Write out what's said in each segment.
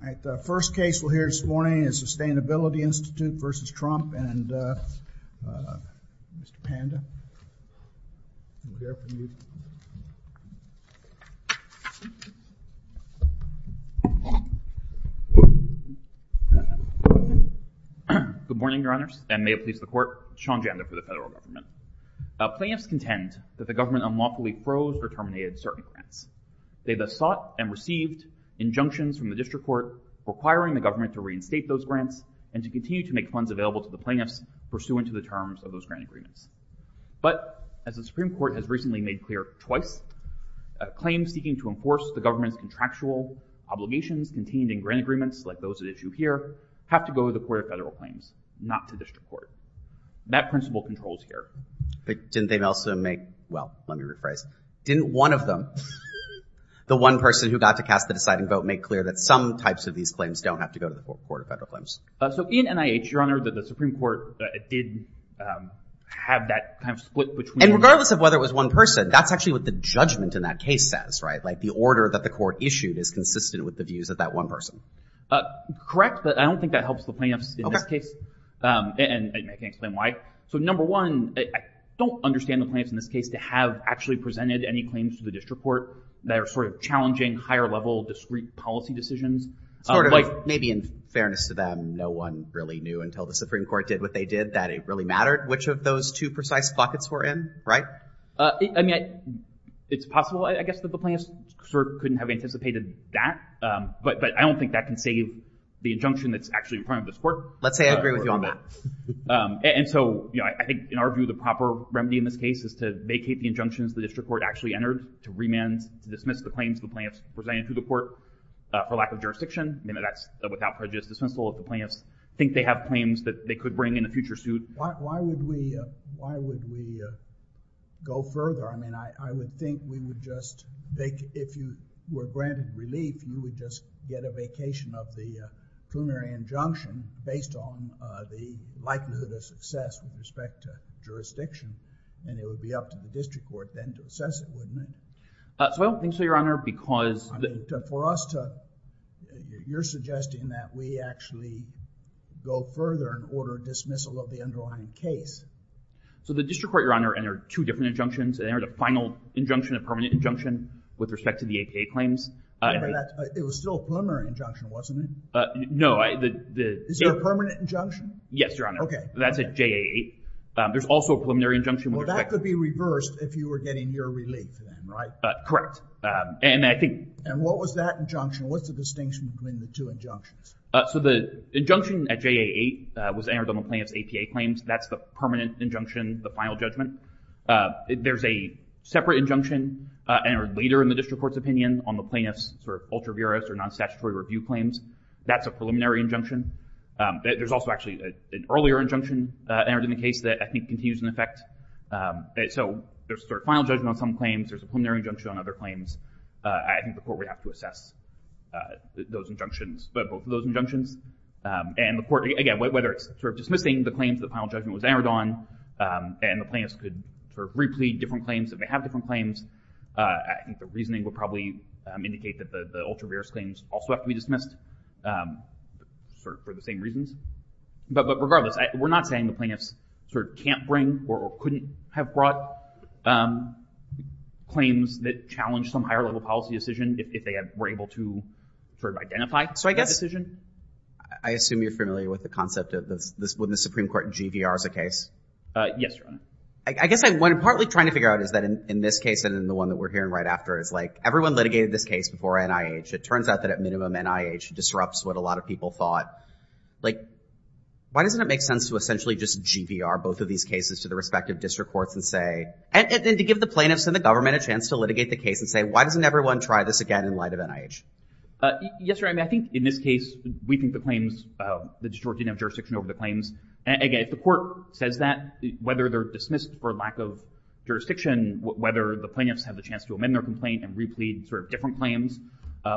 All right, the first case we'll hear this morning is Sustainability Institute v. Trump, and Mr. Panda will be there for you. Good morning, Your Honors, and may it please the Court. Sean Janda for the Federal Government. Plaintiffs contend that the government unlawfully froze or terminated certain grants. They thus sought and received injunctions from the District Court requiring the government to reinstate those grants and to continue to make funds available to the plaintiffs pursuant to the terms of those grant agreements. But, as the Supreme Court has recently made clear twice, claims seeking to enforce the government's contractual obligations contained in grant agreements, like those at issue here, have to go to the Court of Federal Claims, not to District Court. That principle controls here. But didn't they also make—well, let me rephrase. Didn't one of them, the one person who got to cast the deciding vote, make clear that some types of these claims don't have to go to the Court of Federal Claims? So in NIH, Your Honor, the Supreme Court did have that kind of split between— And regardless of whether it was one person, that's actually what the judgment in that case says, right? Like the order that the court issued is consistent with the views of that one person. Correct, but I don't think that helps the plaintiffs in this case. And I can explain why. So number one, I don't understand the plaintiffs in this case to have actually presented any claims to the District Court that are sort of challenging, higher-level, discrete policy decisions. Sort of, maybe in fairness to them, no one really knew until the Supreme Court did what they did that it really mattered which of those two precise pockets were in, right? I mean, it's possible, I guess, that the plaintiffs sort of couldn't have anticipated that. But I don't think that can save the injunction that's actually in front of this Court. Let's say I agree with you on that. And so, you know, I think, in our view, the proper remedy in this case is to vacate the injunctions the District Court actually entered, to remand, to dismiss the claims the plaintiffs presented to the Court for lack of jurisdiction. That's without prejudice dismissal if the plaintiffs think they have claims that they could bring in a future suit. Why would we go further? I mean, I would think we would just – if you were granted relief, you would just get a vacation of the plenary injunction based on the likelihood of success with respect to jurisdiction. And it would be up to the District Court then to assess it, wouldn't it? Well, thank you, Your Honor, because… For us to – you're suggesting that we actually go further and order dismissal of the underlying case. So the District Court, Your Honor, entered two different injunctions. It entered a final injunction, a permanent injunction, with respect to the APA claims. It was still a preliminary injunction, wasn't it? No, the… Is it a permanent injunction? Yes, Your Honor. Okay. That's a JA8. There's also a preliminary injunction with respect to… Well, that could be reversed if you were getting your relief then, right? Correct. And I think… And what was that injunction? What's the distinction between the two injunctions? So the injunction at JA8 was entered on the plaintiff's APA claims. That's the permanent injunction, the final judgment. There's a separate injunction entered later in the District Court's opinion on the plaintiff's sort of ultra vires or non-statutory review claims. That's a preliminary injunction. There's also actually an earlier injunction entered in the case that I think continues in effect. So there's a sort of final judgment on some claims. There's a preliminary injunction on other claims. I think the Court would have to assess those injunctions, both of those injunctions. And the Court, again, whether it's sort of dismissing the claims that the final judgment was entered on and the plaintiffs could sort of replete different claims if they have different claims, I think the reasoning would probably indicate that the ultra vires claims also have to be dismissed sort of for the same reasons. But regardless, we're not saying the plaintiffs sort of can't bring or couldn't have brought claims that challenge some higher-level policy decision if they were able to sort of identify that decision. So I guess I assume you're familiar with the concept of when the Supreme Court GVRs a case. Yes, Your Honor. I guess what I'm partly trying to figure out is that in this case and in the one that we're hearing right after is like everyone litigated this case before NIH. It turns out that at minimum, NIH disrupts what a lot of people thought. Like, why doesn't it make sense to essentially just GVR both of these cases to the respective district courts and say and to give the plaintiffs and the government a chance to litigate the case and say, why doesn't everyone try this again in light of NIH? Yes, Your Honor. I mean, I think in this case, we think the claims, the district didn't have jurisdiction over the claims. And again, if the Court says that, whether they're dismissed for lack of jurisdiction, whether the plaintiffs have the chance to amend their complaint and replete sort of different claims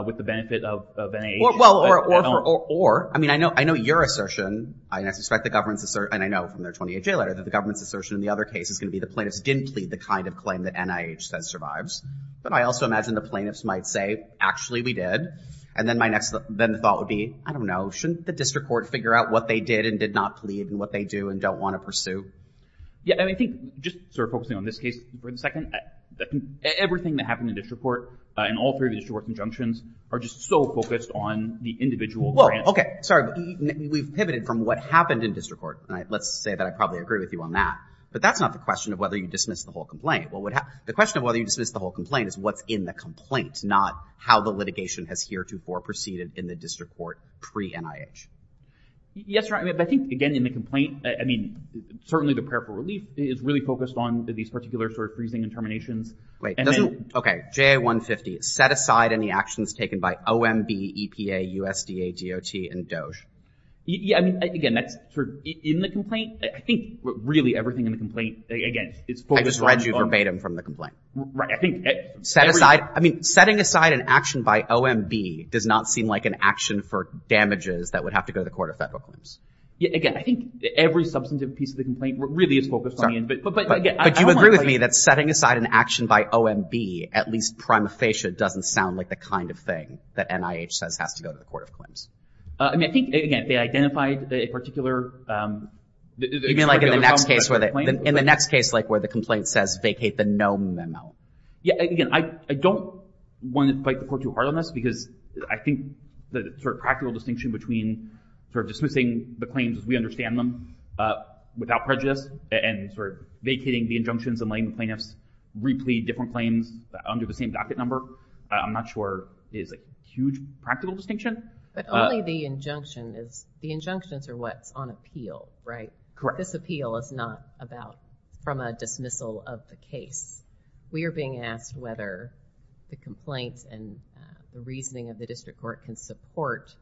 with the benefit of NIH. Or, I mean, I know your assertion, and I suspect the government's assertion, and I know from their 28-J letter, that the government's assertion in the other case is going to be the plaintiffs didn't plead the kind of claim that NIH says survives. But I also imagine the plaintiffs might say, actually, we did. And then my next thought would be, I don't know, shouldn't the district court figure out what they did and did not plead and what they do and don't want to pursue? Yeah, I think just sort of focusing on this case for a second, everything that happened in district court, in all three of the district court conjunctions, are just so focused on the individual grant. Well, okay, sorry, we've pivoted from what happened in district court. Let's say that I probably agree with you on that. But that's not the question of whether you dismiss the whole complaint. The question of whether you dismiss the whole complaint is what's in the complaint, not how the litigation has heretofore proceeded in the district court pre-NIH. Yes, Your Honor, but I think, again, in the complaint, I mean, certainly the prayer for relief is really focused on these particular sort of freezing and terminations. Wait, doesn't, okay, JA-150, set aside any actions taken by OMB, EPA, USDA, DOT, and DOJ. Yeah, I mean, again, that's sort of in the complaint. I think, really, everything in the complaint, again, is focused on… I just read you verbatim from the complaint. Right, I think… Set aside, I mean, setting aside an action by OMB does not seem like an action for damages that would have to go to court if that book limps. Yeah, again, I think every substantive piece of the complaint really is focused on the… But you agree with me that setting aside an action by OMB, at least prima facie, doesn't sound like the kind of thing that NIH says has to go to the court of claims. I mean, I think, again, they identified a particular… You mean like in the next case where the complaint says, vacate the no memo? Yeah, again, I don't want to fight the court too hard on this because I think the sort of practical distinction between sort of dismissing the claims as we understand them without prejudice and sort of vacating the injunctions and letting the plaintiffs replead different claims under the same docket number, I'm not sure is a huge practical distinction. But only the injunction is… The injunctions are what's on appeal, right? Correct. This appeal is not from a dismissal of the case. We are being asked whether the complaints and the reasoning of the district court can support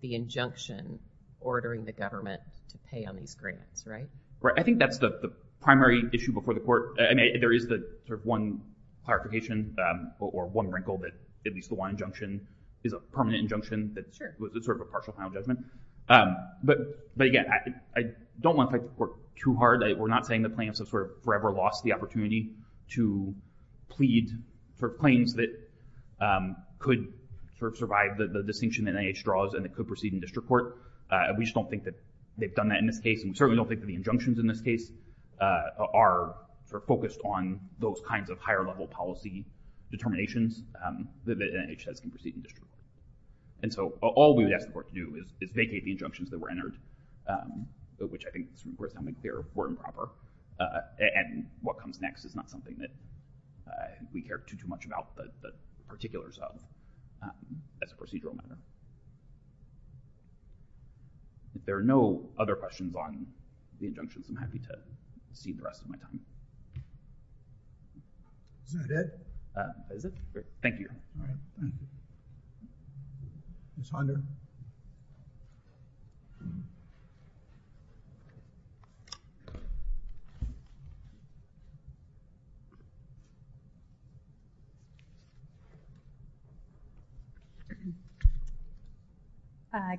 the injunction ordering the government to pay on these grants, right? Right. I think that's the primary issue before the court. I mean, there is the sort of one clarification or one wrinkle that at least the one injunction is a permanent injunction that's sort of a partial final judgment. But again, I don't want to fight the court too hard. We're not saying the plaintiffs have sort of forever lost the opportunity to plead for claims that could sort of survive the distinction that NIH draws and that could proceed in district court. We just don't think that they've done that in this case, and we certainly don't think that the injunctions in this case are sort of focused on those kinds of higher-level policy determinations that NIH says can proceed in district court. And so all we would ask the court to do is vacate the injunctions that were entered, which I think is worth making clear were improper, and what comes next is not something that we hear too much about the particulars of as a procedural matter. If there are no other questions on the injunctions, I'm happy to cede the rest of my time. Is that it? Is it? Thank you. Ms. Honda?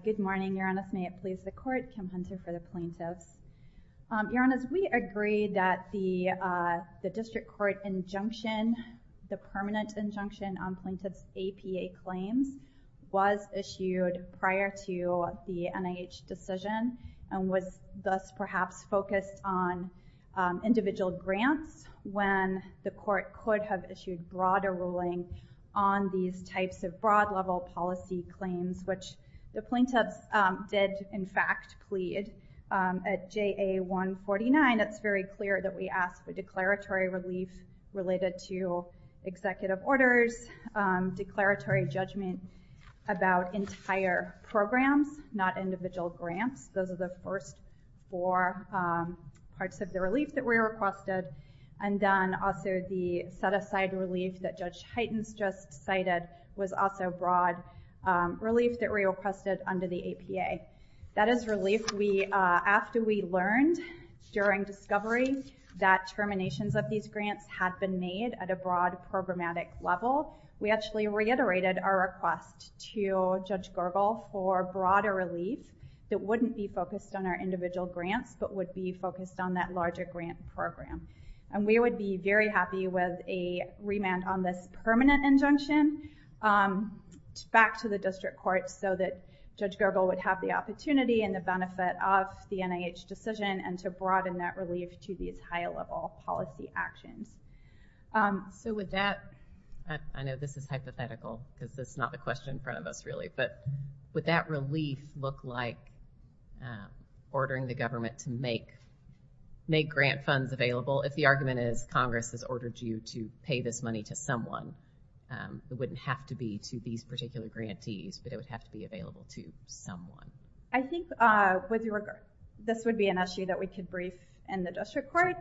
Good morning, Your Honor. May it please the court, Kim Hunter for the plaintiffs. Your Honors, we agree that the district court injunction, the permanent injunction on plaintiffs' APA claims, was issued prior to the NIH decision and was thus perhaps focused on individual grants when the court could have issued broader ruling on these types of broad-level policy claims, which the plaintiffs did, in fact, plead. At JA149, it's very clear that we asked for declaratory relief related to executive orders, declaratory judgment about entire programs, not individual grants. Those are the first four parts of the relief that we requested, and then also the set-aside relief that Judge Heitens just cited was also broad relief that we requested under the APA. That is relief we, after we learned during discovery that terminations of these grants had been made at a broad programmatic level, we actually reiterated our request to Judge Gergel for broader relief that wouldn't be focused on our individual grants, but would be focused on that larger grant program. And we would be very happy with a remand on this permanent injunction back to the district court so that Judge Gergel would have the opportunity and the benefit of the NIH decision and to broaden that relief to these higher-level policy actions. So with that, I know this is hypothetical because it's not the question in front of us, really, but would that relief look like ordering the government to make grant funds available? If the argument is Congress has ordered you to pay this money to someone, it wouldn't have to be to these particular grantees, but it would have to be available to someone. I think this would be an issue that we could brief in the district court,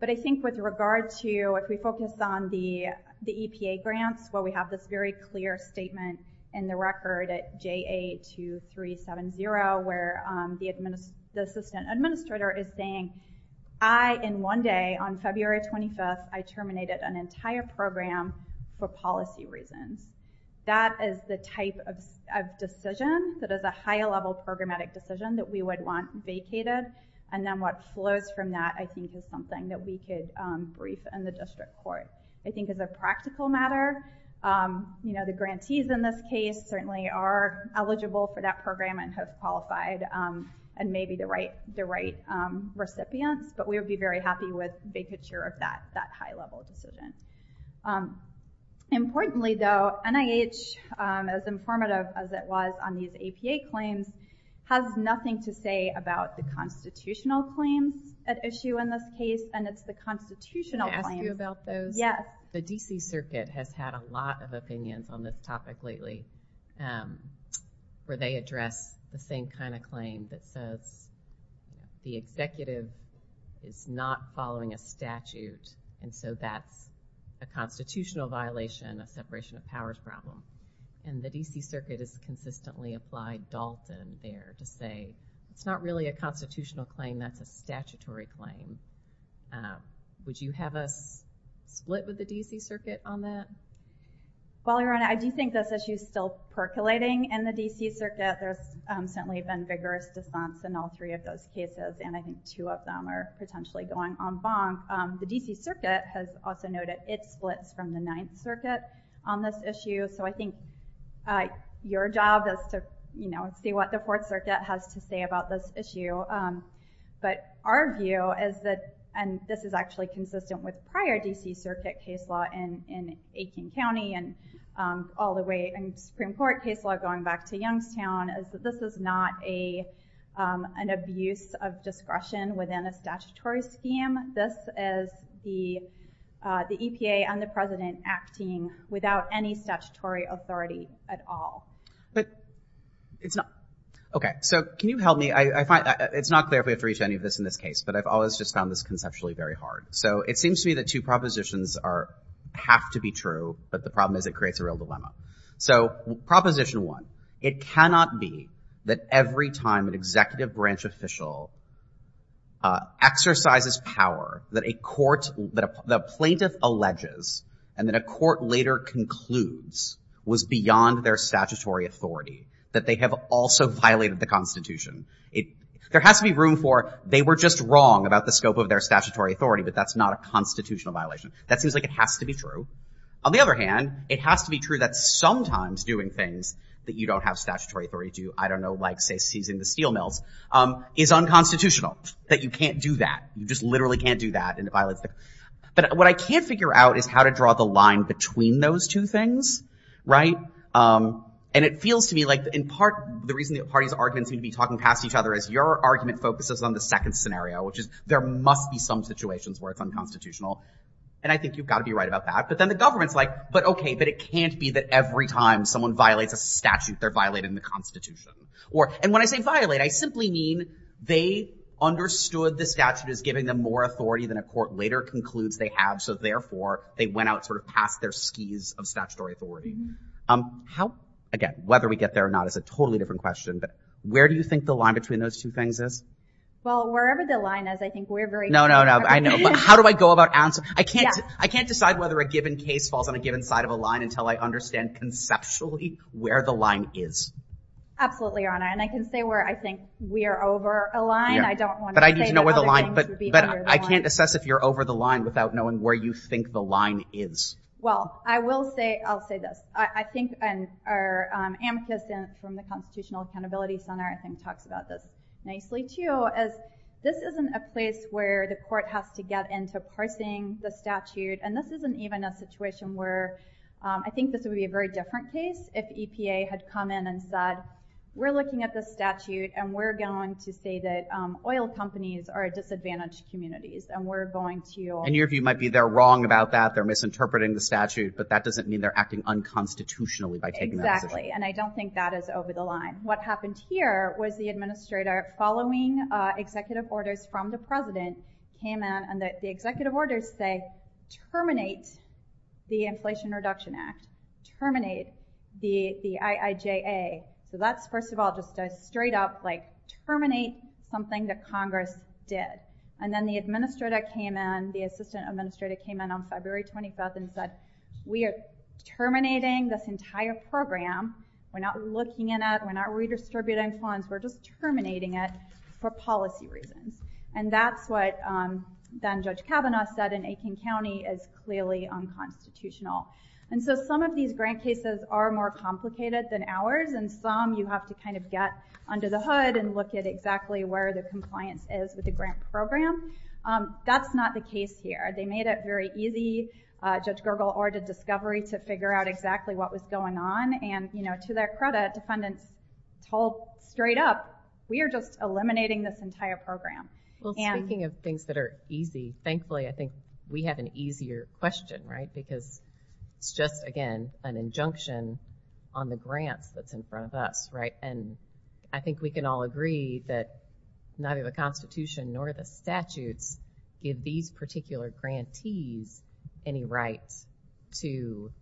but I think with regard to if we focus on the EPA grants where we have this very clear statement in the record at JA2370 where the assistant administrator is saying, I, in one day, on February 25th, I terminated an entire program for policy reasons. That is the type of decision that is a higher-level programmatic decision that we would want vacated, and then what flows from that, I think, is something that we could brief in the district court. I think as a practical matter, the grantees in this case certainly are eligible for that program and have qualified and may be the right recipients, but we would be very happy with vacature of that high-level decision. Importantly, though, NIH, as informative as it was on these EPA claims, has nothing to say about the constitutional claims at issue in this case, and it's the constitutional claims. Can I ask you about those? Yes. The D.C. Circuit has had a lot of opinions on this topic lately where they address the same kind of claim that says the executive is not following a statute, and so that's a constitutional violation, a separation of powers problem, and the D.C. Circuit has consistently applied Dalton there to say it's not really a constitutional claim. That's a statutory claim. Would you have us split with the D.C. Circuit on that? Well, Your Honor, I do think this issue is still percolating in the D.C. Circuit. There's certainly been vigorous defense in all three of those cases, and I think two of them are potentially going en banc. The D.C. Circuit has also noted it splits from the Ninth Circuit on this issue, so I think your job is to, you know, see what the Fourth Circuit has to say about this issue, but our view is that, and this is actually consistent with prior D.C. Circuit case law in Aiken County and all the way in Supreme Court case law going back to Youngstown, is that this is not an abuse of discretion within a statutory scheme. This is the EPA and the President acting without any statutory authority at all. But it's not... Okay, so can you help me? It's not clear if we have to reach any of this in this case, but I've always just found this conceptually very hard. So it seems to me that two propositions are... have to be true, but the problem is it creates a real dilemma. So Proposition 1, it cannot be that every time an executive branch official exercises power that a court... that a plaintiff alleges and that a court later concludes was beyond their statutory authority, that they have also violated the Constitution. There has to be room for they were just wrong about the scope of their statutory authority, but that's not a constitutional violation. That seems like it has to be true. On the other hand, it has to be true that sometimes doing things that you don't have statutory authority to, I don't know, like, say, seizing the steel mills, is unconstitutional, that you can't do that. You just literally can't do that, and it violates the... But what I can't figure out is how to draw the line between those two things, right? And it feels to me like, in part, the reason the parties' arguments seem to be talking past each other is your argument focuses on the second scenario, which is there must be some situations where it's unconstitutional, and I think you've got to be right about that. But then the government's like, but OK, but it can't be that every time someone violates a statute, they're violating the Constitution. And when I say violate, I simply mean they understood the statute as giving them more authority than a court later concludes they have, so therefore they went out sort of past their skis of statutory authority. Again, whether we get there or not is a totally different question, but where do you think the line between those two things is? Well, wherever the line is, I think we're very... No, no, no, I know, but how do I go about answering? I can't decide whether a given case falls on a given side of a line until I understand conceptually where the line is. Absolutely, Your Honor, and I can say where I think we're over a line. But I need to know where the line... But I can't assess if you're over the line without knowing where you think the line is. Well, I will say, I'll say this. I think our amicus from the Constitutional Accountability Center I think talks about this nicely too, as this isn't a place where the court has to get into parsing the statute, and this isn't even a situation where I think this would be a very different case if EPA had come in and said, we're looking at this statute and we're going to say that oil companies are disadvantaged communities and we're going to... And your view might be they're wrong about that, they're misinterpreting the statute, but that doesn't mean they're acting unconstitutionally by taking that decision. Exactly, and I don't think that is over the line. What happened here was the administrator, following executive orders from the president, came in and the executive orders say, terminate the Inflation Reduction Act, terminate the IIJA, so that's, first of all, just a straight up terminate something that Congress did. And then the administrator came in, the assistant administrator came in on February 25th and said, we are terminating this entire program, we're not looking at it, we're not redistributing funds, we're just terminating it for policy reasons. And that's what Judge Kavanaugh said in Aitkin County is clearly unconstitutional. And so some of these grant cases are more complicated than ours, and some you have to kind of get under the hood and look at exactly where the compliance is with the grant program. That's not the case here. They made it very easy, Judge Gergel ordered discovery to figure out exactly what was going on, and to their credit, defendants told straight up, we are just eliminating this entire program. Speaking of things that are easy, thankfully I think we have an easier question, right, because it's just, again, an injunction on the grants that's in front of us, right, and I think we can all agree that neither the Constitution nor the statutes give these particular grantees any rights to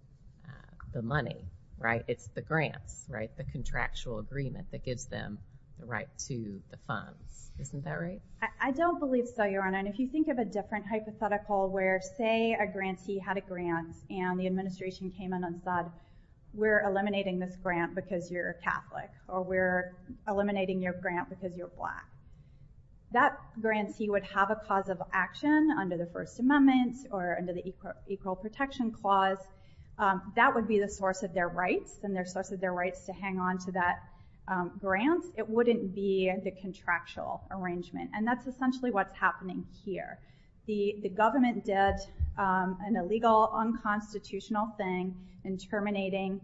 the money, right, it's the grants, right, the contractual agreement that gives them the right to the funds, isn't that right? I don't believe so, Your Honor, and if you think of a different hypothetical where, say, a grantee had a grant, and the administration came in and said, we're eliminating this grant because you're a Catholic, or we're eliminating your grant because you're black, that grantee would have a cause of action under the First Amendment or under the Equal Protection Clause, that would be the source of their rights, and their source of their rights to hang on to that grant, it wouldn't be the contractual arrangement, and that's essentially what's happening here. The government did an illegal, unconstitutional thing in terminating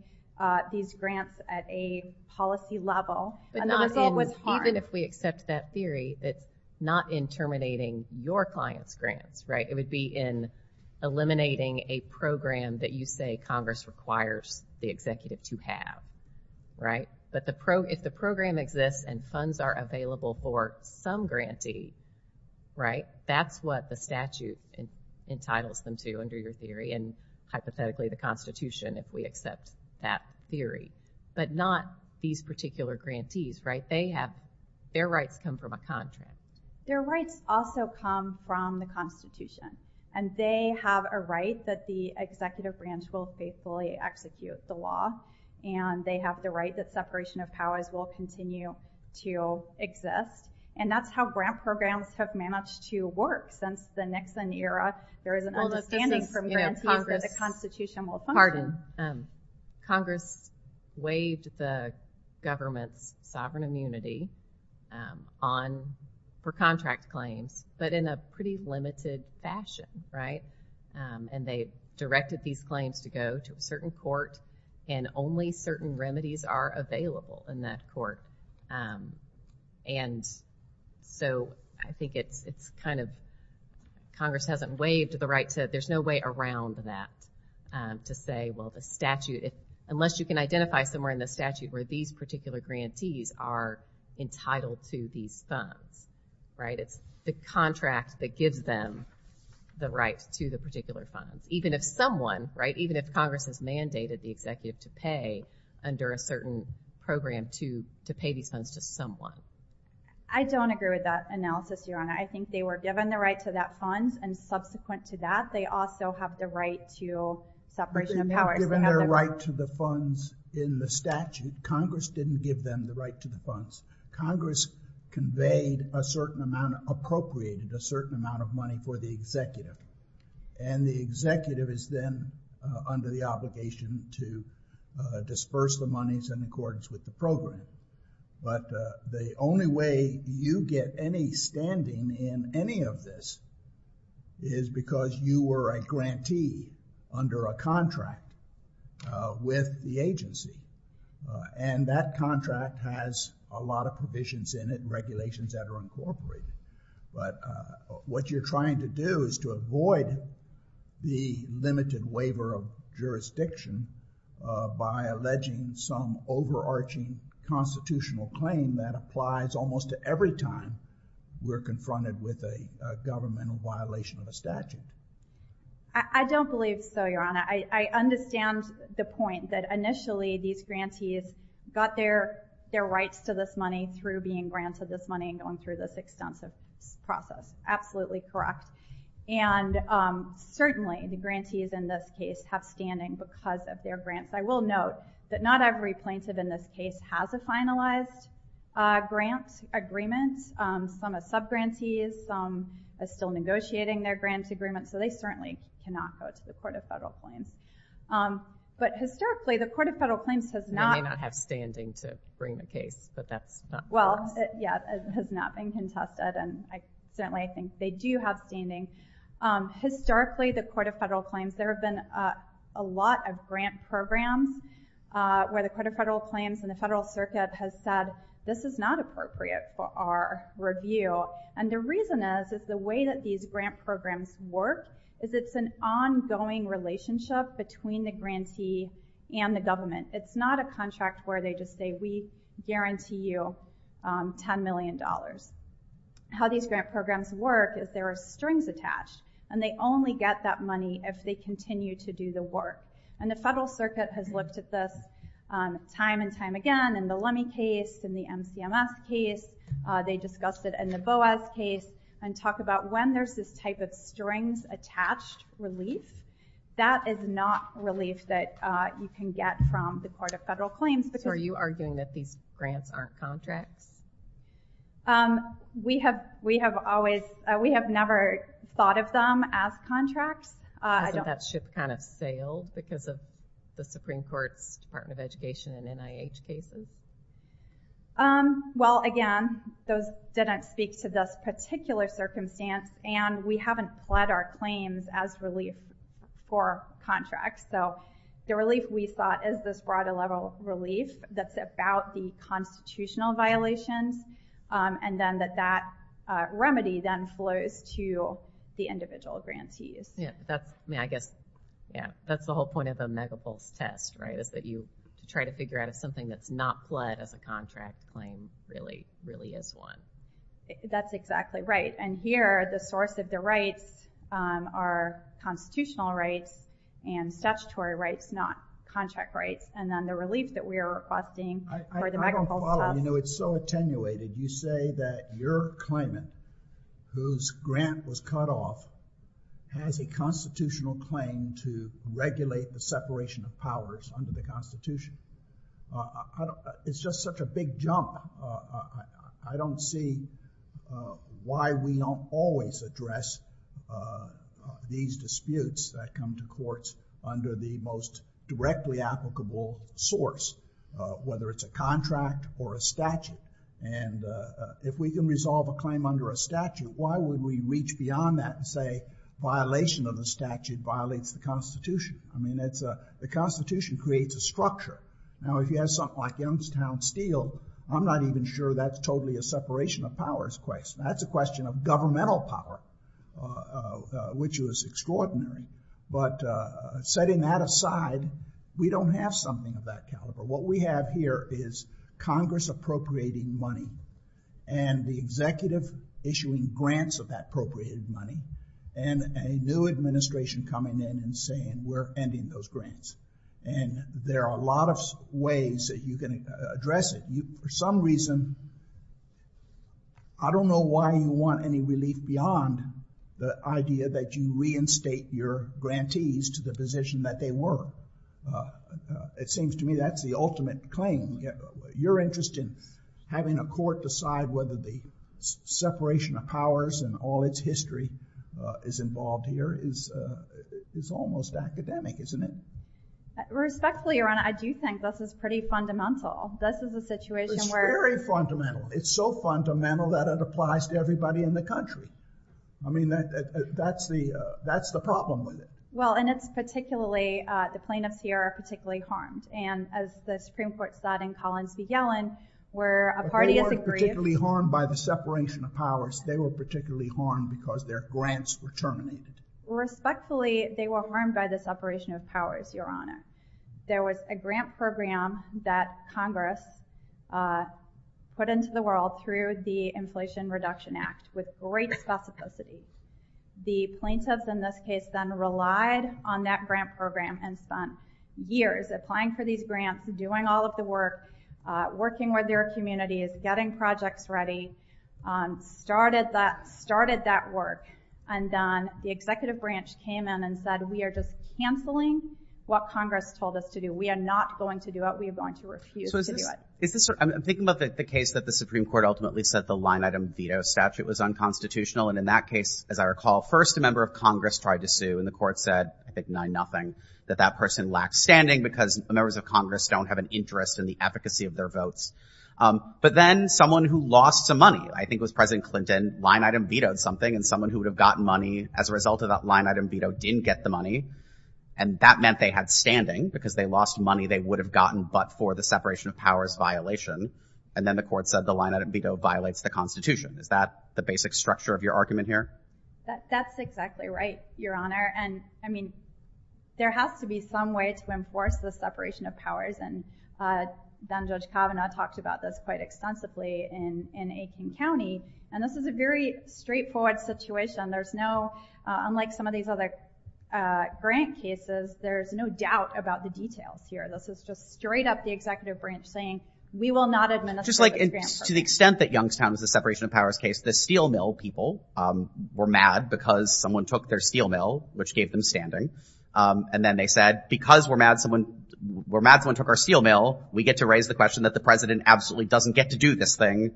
these grants at a policy level. Even if we accept that theory that's not in terminating your client's grants, right, it would be in eliminating a program that you say Congress requires the executive to have, right, but if the program exists and funds are available for some grantee, right, that's what the statute entitles them to under your theory, and hypothetically the Constitution if we accept that theory, but not these particular grantees, right, their rights come from a contract. Their rights also come from the Constitution, and they have a right that the executive branch will faithfully execute the law, and they have the right that separation of powers will continue to exist, and that's how grant programs have managed to work since the Nixon era. There is an understanding from grantees that the Constitution will function. Pardon. Congress waived the government's sovereign immunity on for contract claims, but in a pretty limited fashion, right, and they directed these claims to go to a certain court, and only certain remedies are available in that court, and so I think it's kind of, Congress hasn't waived the right to, there's no way around that to say well the statute, unless you can identify somewhere in the statute where these particular grantees are entitled to these funds, right, it's the contract that gives them the right to the particular funds, even if someone, right, even if Congress has mandated the executive to pay under a certain program to pay these funds to someone. I don't agree with that analysis, Your Honor. I think they were given the right to that funds, and subsequent to that, they also have the right to separation of powers. They've been given their right to the funds in the statute. Congress didn't give them the right to the funds. Congress conveyed a certain amount, appropriated a certain amount of money for the executive, and the executive is then under the obligation to disperse the monies in accordance with the program, but the only way you get any standing in any of this is because you were a grantee under a contract with the agency, and that contract has a lot of provisions in it, regulations that are incorporated, but what you're trying to do is to avoid the limited waiver of jurisdiction by alleging some overarching constitutional claim that applies almost to every time we're confronted with a governmental violation of a statute. I don't believe so, Your Honor. I understand the point that initially these grantees got their rights to this money through being granted this money and going through this extensive process. Absolutely correct. And certainly the grantees in this case have standing because of their grants. I will note that not every plaintiff in this case has a finalized grant agreement. Some are subgrantees, some are still negotiating their grant agreement, so they certainly cannot go to the Court of Federal Claims. But historically, the Court of Federal Claims has not They may not have standing to bring the case, but that's not the case. Well, yeah, it has not been contested, and certainly I think they do have standing. Historically, the Court of Federal Claims, there have been a lot of grant programs where the Court of Federal Claims and the Federal Circuit has said, this is not appropriate for our review. And the reason is, is the way that these grant programs work is it's an ongoing relationship between the grantee and the government. It's not a contract where they just say, we guarantee you $10 million. How these grant programs work is there are strings attached, and they only get that money if they continue to do the work. And the Federal Circuit has looked at this time and time again, in the Lemme case, in the MCMS case, they discussed it in the BOAS case, and talk about when there's this type of strings attached relief, that is not relief that you can get from the Court of Federal Claims. So are you arguing that these grants aren't contracts? We have never thought of them as contracts. Doesn't that ship kind of sail because of the Supreme Court's Department of Education and NIH cases? Well, again, those didn't speak to this particular circumstance, and we haven't pled our claims as relief for contracts. So the relief we thought is this broader level of relief that's about the constitutional violations, and then that that remedy then flows to the individual grantees. Yeah, I guess that's the whole point of a Megapulse test, right, is that you try to figure out if something that's not pled as a contract claim really is one. That's exactly right. And here, the source of the rights are constitutional rights and statutory rights, not contract rights. And then the relief that we are requesting for the Megapulse test... I don't follow. You know, it's so attenuated. You say that your claimant whose grant was cut off has a constitutional claim to regulate the separation of powers under the Constitution. It's just such a big jump. I don't see why we don't always address these disputes that come to court under the most directly applicable source, whether it's a contract or a statute. And if we can resolve a claim under a statute, why would we reach beyond that and say, violation of the statute violates the Constitution? I mean, the Constitution creates a structure. Now, if you have something like Youngstown Steel, I'm not even sure that's totally a separation of powers question. That's a question of governmental power, which was extraordinary. But setting that aside, we don't have something of that caliber. What we have here is Congress appropriating money and the executive issuing grants of that appropriated money, and a new administration coming in and saying, we're ending those grants. And there are a lot of ways that you can address it. For some reason, I don't know why you want any relief beyond the idea that you reinstate your grantees to the position that they were. It seems to me that's the ultimate claim. Your interest in having a court decide whether the separation of powers and all its history is involved here is almost academic, isn't it? Respectfully, Your Honor, I do think this is pretty fundamental. This is a situation where... It's very fundamental. It's so fundamental that it applies to everybody in the country. That's the problem with it. Well, and it's particularly... The plaintiffs here are particularly harmed. And as the Supreme Court said in Collins v. Yellen, where a party is aggrieved... They weren't particularly harmed by the separation of powers. They were particularly harmed because their grants were terminated. Respectfully, they were harmed by the separation of powers, Your Honor. There was a grant program that Congress put into the world through the Inflation Reduction Act with great specificity. The plaintiffs in this case then relied on that grant program and spent years applying for these grants, doing all of the work, working with their communities, getting projects ready, started that work, and then the executive branch came in and said, we are just canceling what Congress told us to do. We are not going to do it. We are going to refuse to do it. I'm thinking about the case that the Supreme Court ultimately said the line-item veto statute was unconstitutional, and in that case, as I recall, first a member of Congress tried to sue, and the court said, I think 9-0, that that person lacked standing because members of Congress don't have an interest in the efficacy of their votes. But then someone who lost some money, I think it was President Clinton, line-item vetoed something, and someone who would have gotten money as a result of that line-item veto didn't get the money, and that meant they had standing because they lost money they would have gotten but for the separation of powers violation, and then the court said the line-item veto violates the Constitution. Is that the basic structure of your argument here? That's exactly right, Your Honor, and, I mean, there has to be some way to enforce the separation of powers, and then Judge Kavanaugh talked about this quite extensively in Aiken County, and this is a very straightforward situation. There's no, unlike some of these other grant cases, there's no straight up the executive branch saying we will not administer those grants. To the extent that Youngstown is a separation of powers case, the steel mill people were mad because someone took their steel mill, which gave them standing, and then they said, because we're mad someone took our steel mill, we get to raise the question that the President absolutely doesn't get to do this thing,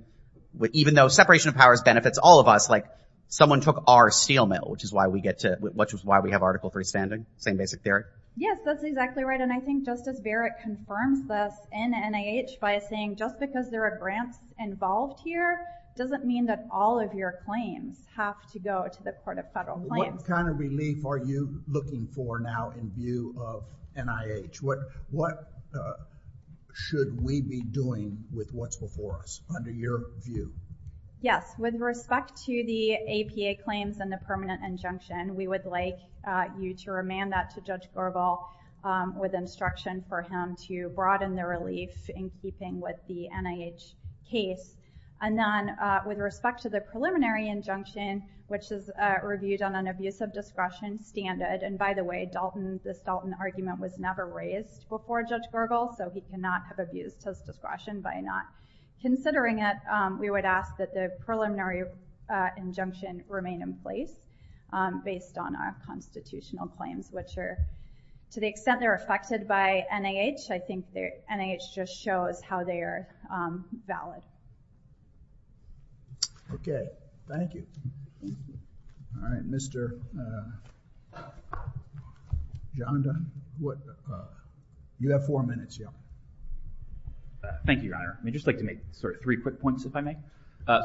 even though separation of powers benefits all of us, someone took our steel mill, which is why we have Article 3 standing, same basic theory. Yes, that's exactly right, and I think Justice Barrett confirms this in NIH by saying just because there are grants involved here, doesn't mean that all of your claims have to go to the Court of Federal Claims. What kind of relief are you looking for now in view of NIH? What should we be doing with what's before us, under your view? Yes, with respect to the APA claims and the permanent injunction, we would like you to remand that to Judge Goebel with instruction for him to broaden the relief in keeping with the NIH case, and then with respect to the preliminary injunction, which is reviewed on an abuse of discretion standard, and by the way, this Dalton argument was never raised before Judge Goebel, so he cannot have abused his discretion by not considering it, we would ask that the preliminary injunction remain in place based on our constitutional claims, which are, to the extent they're affected by NIH, I think NIH just shows how they are valid. Okay, thank you. Alright, Mr. Johnathan? You have four minutes, yeah. Thank you, Your Honor. I'd just like to make three quick points, if I may.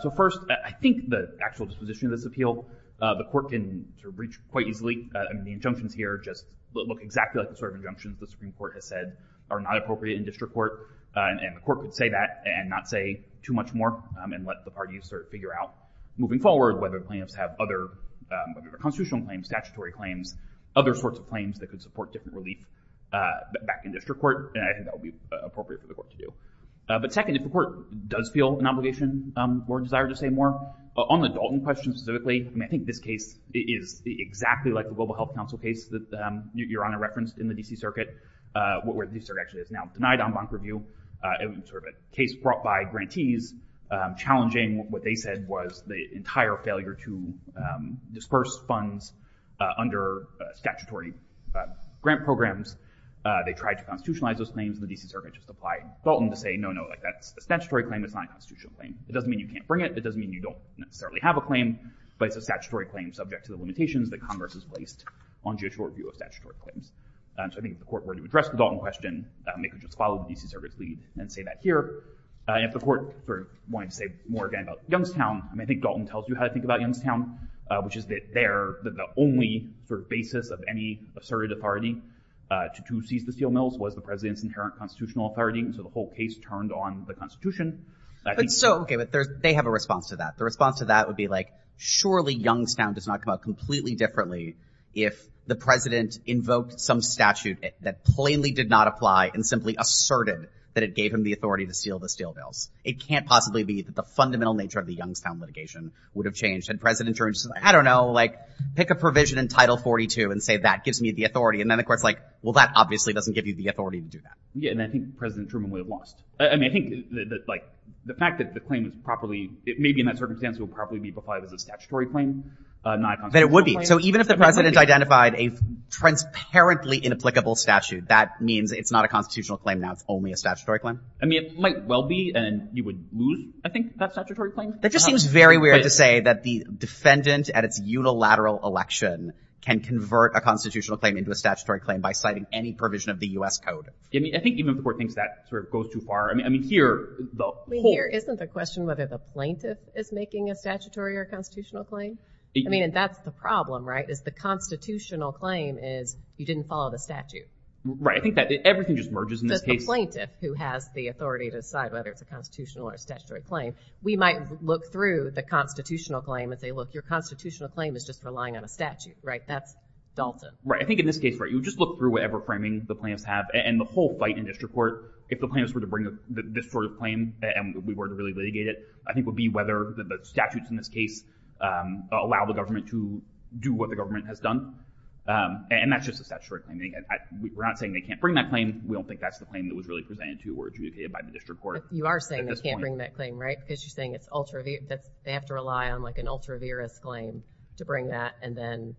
So first, I think the actual disposition of this appeal, the court can reach quite easily, the injunctions here just look exactly like the sort of injunctions the Supreme Court has said are not appropriate in district court, and the court could say that, and not say too much more, and let the parties figure out, moving forward, whether the plaintiffs have other constitutional claims, statutory claims, other sorts of claims that could support different relief back in district court, and I think that would be appropriate for the court to do. But second, if the court does feel an obligation or desire to say more, on the Dalton question specifically, I think this case is exactly like the Global Health Council case that Your Honor referenced in the D.C. Circuit, where the D.C. Circuit is now denied en banc review. It was sort of a case brought by grantees, challenging what they said was the entire failure to disperse funds under statutory grant programs. They tried to constitutionalize those claims, and the D.C. Circuit just applied Dalton to say, no, no, that's a statutory claim, it's not a constitutional claim. It doesn't mean you can't bring it, it doesn't mean you don't necessarily have a claim, but it's a statutory claim subject to the limitations that Congress has placed on judicial review of statutory claims. So I think if the court were to address the Dalton question, they could just follow the D.C. Circuit's lead and say that here. And if the court wanted to say more, again, about Youngstown, I think Dalton tells you how to think about Youngstown, which is that there, the only basis of any asserted authority to seize the steel mills was the president's inherent constitutional authority, so the whole case turned on the Constitution. They have a response to that. The response to that would be like, surely Youngstown does not come out completely differently if the president invoked some statute that plainly did not apply and simply asserted that it gave him the authority to steal the steel mills. It can't possibly be that the fundamental nature of the Youngstown litigation would have changed. And President Truman just says, I don't know, like, pick a provision in Title 42 and say that gives me the authority. And then the court's like, well, that obviously doesn't give you the authority to do that. Yeah, and I think President Truman would have lost. I mean, I think that, like, the fact that the claim is properly maybe in that circumstance would probably be applied as a statutory claim, not a constitutional claim. But it would be. So even if the president identified a transparently inapplicable statute, that means it's not a constitutional claim now. It's only a statutory claim. I mean, it might well be, and you would lose, I think, that statutory claim. That just seems very weird to say that the defendant at its unilateral election can convert a constitutional claim into a statutory claim by citing any provision of the U.S. Code. I think even the court thinks that sort of goes too far. I mean, here, though, here isn't the question whether the plaintiff is making a statutory or constitutional claim. I mean, and that's the problem, right, is the constitutional claim is you didn't follow the statute. Right. I think that everything just merges in this case. The plaintiff who has the authority to decide whether it's a constitutional or statutory claim, we might look through the constitutional claim and say, look, your constitutional claim is just relying on a statute, right? That's dulcet. Right. I think in this case, you just look through whatever framing the plaintiffs have and the whole fight in district court, if the plaintiffs were to bring this sort of claim and we were to really litigate it, I think it would be whether the statutes in this case allow the government to do what the government has done. And that's just a statutory claim. We're not saying they can't bring that claim. We don't think that's the claim that was really presented to or adjudicated by the district court. You are saying they can't bring that claim, right, because you're saying it's ultra... they have to rely on an ultra-virus claim to bring that and then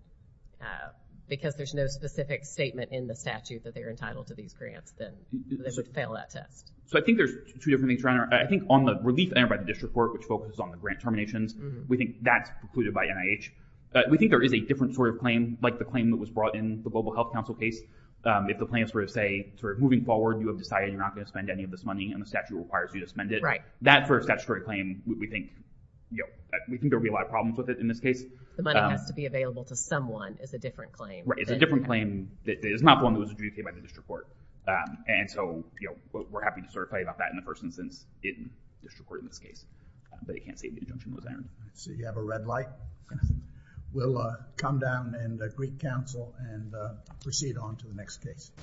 because there's no specific statement in the statute that they're entitled to these grants, then they fail that test. So I think there's two different things around here. I think on the relief by the district court, which focuses on the grant terminations, we think that's precluded by NIH. We think there is a different sort of claim, like the claim that was brought in the Global Health Council case. If the plaintiffs were to say, moving forward, you have decided you're not going to spend any of this money and the statute requires you to spend it, that sort of statutory claim, we think there would be a lot of problems with it in this case. The money has to be available to someone is a different claim. Right. It's a different claim. It's not one that was adjudicated by the district court. And so we're happy to sort of play about that in the first instance in the district court in this case. But they can't say the injunction was ironed. So you have a red light. We'll come down in the Greek Council and proceed on to the next case.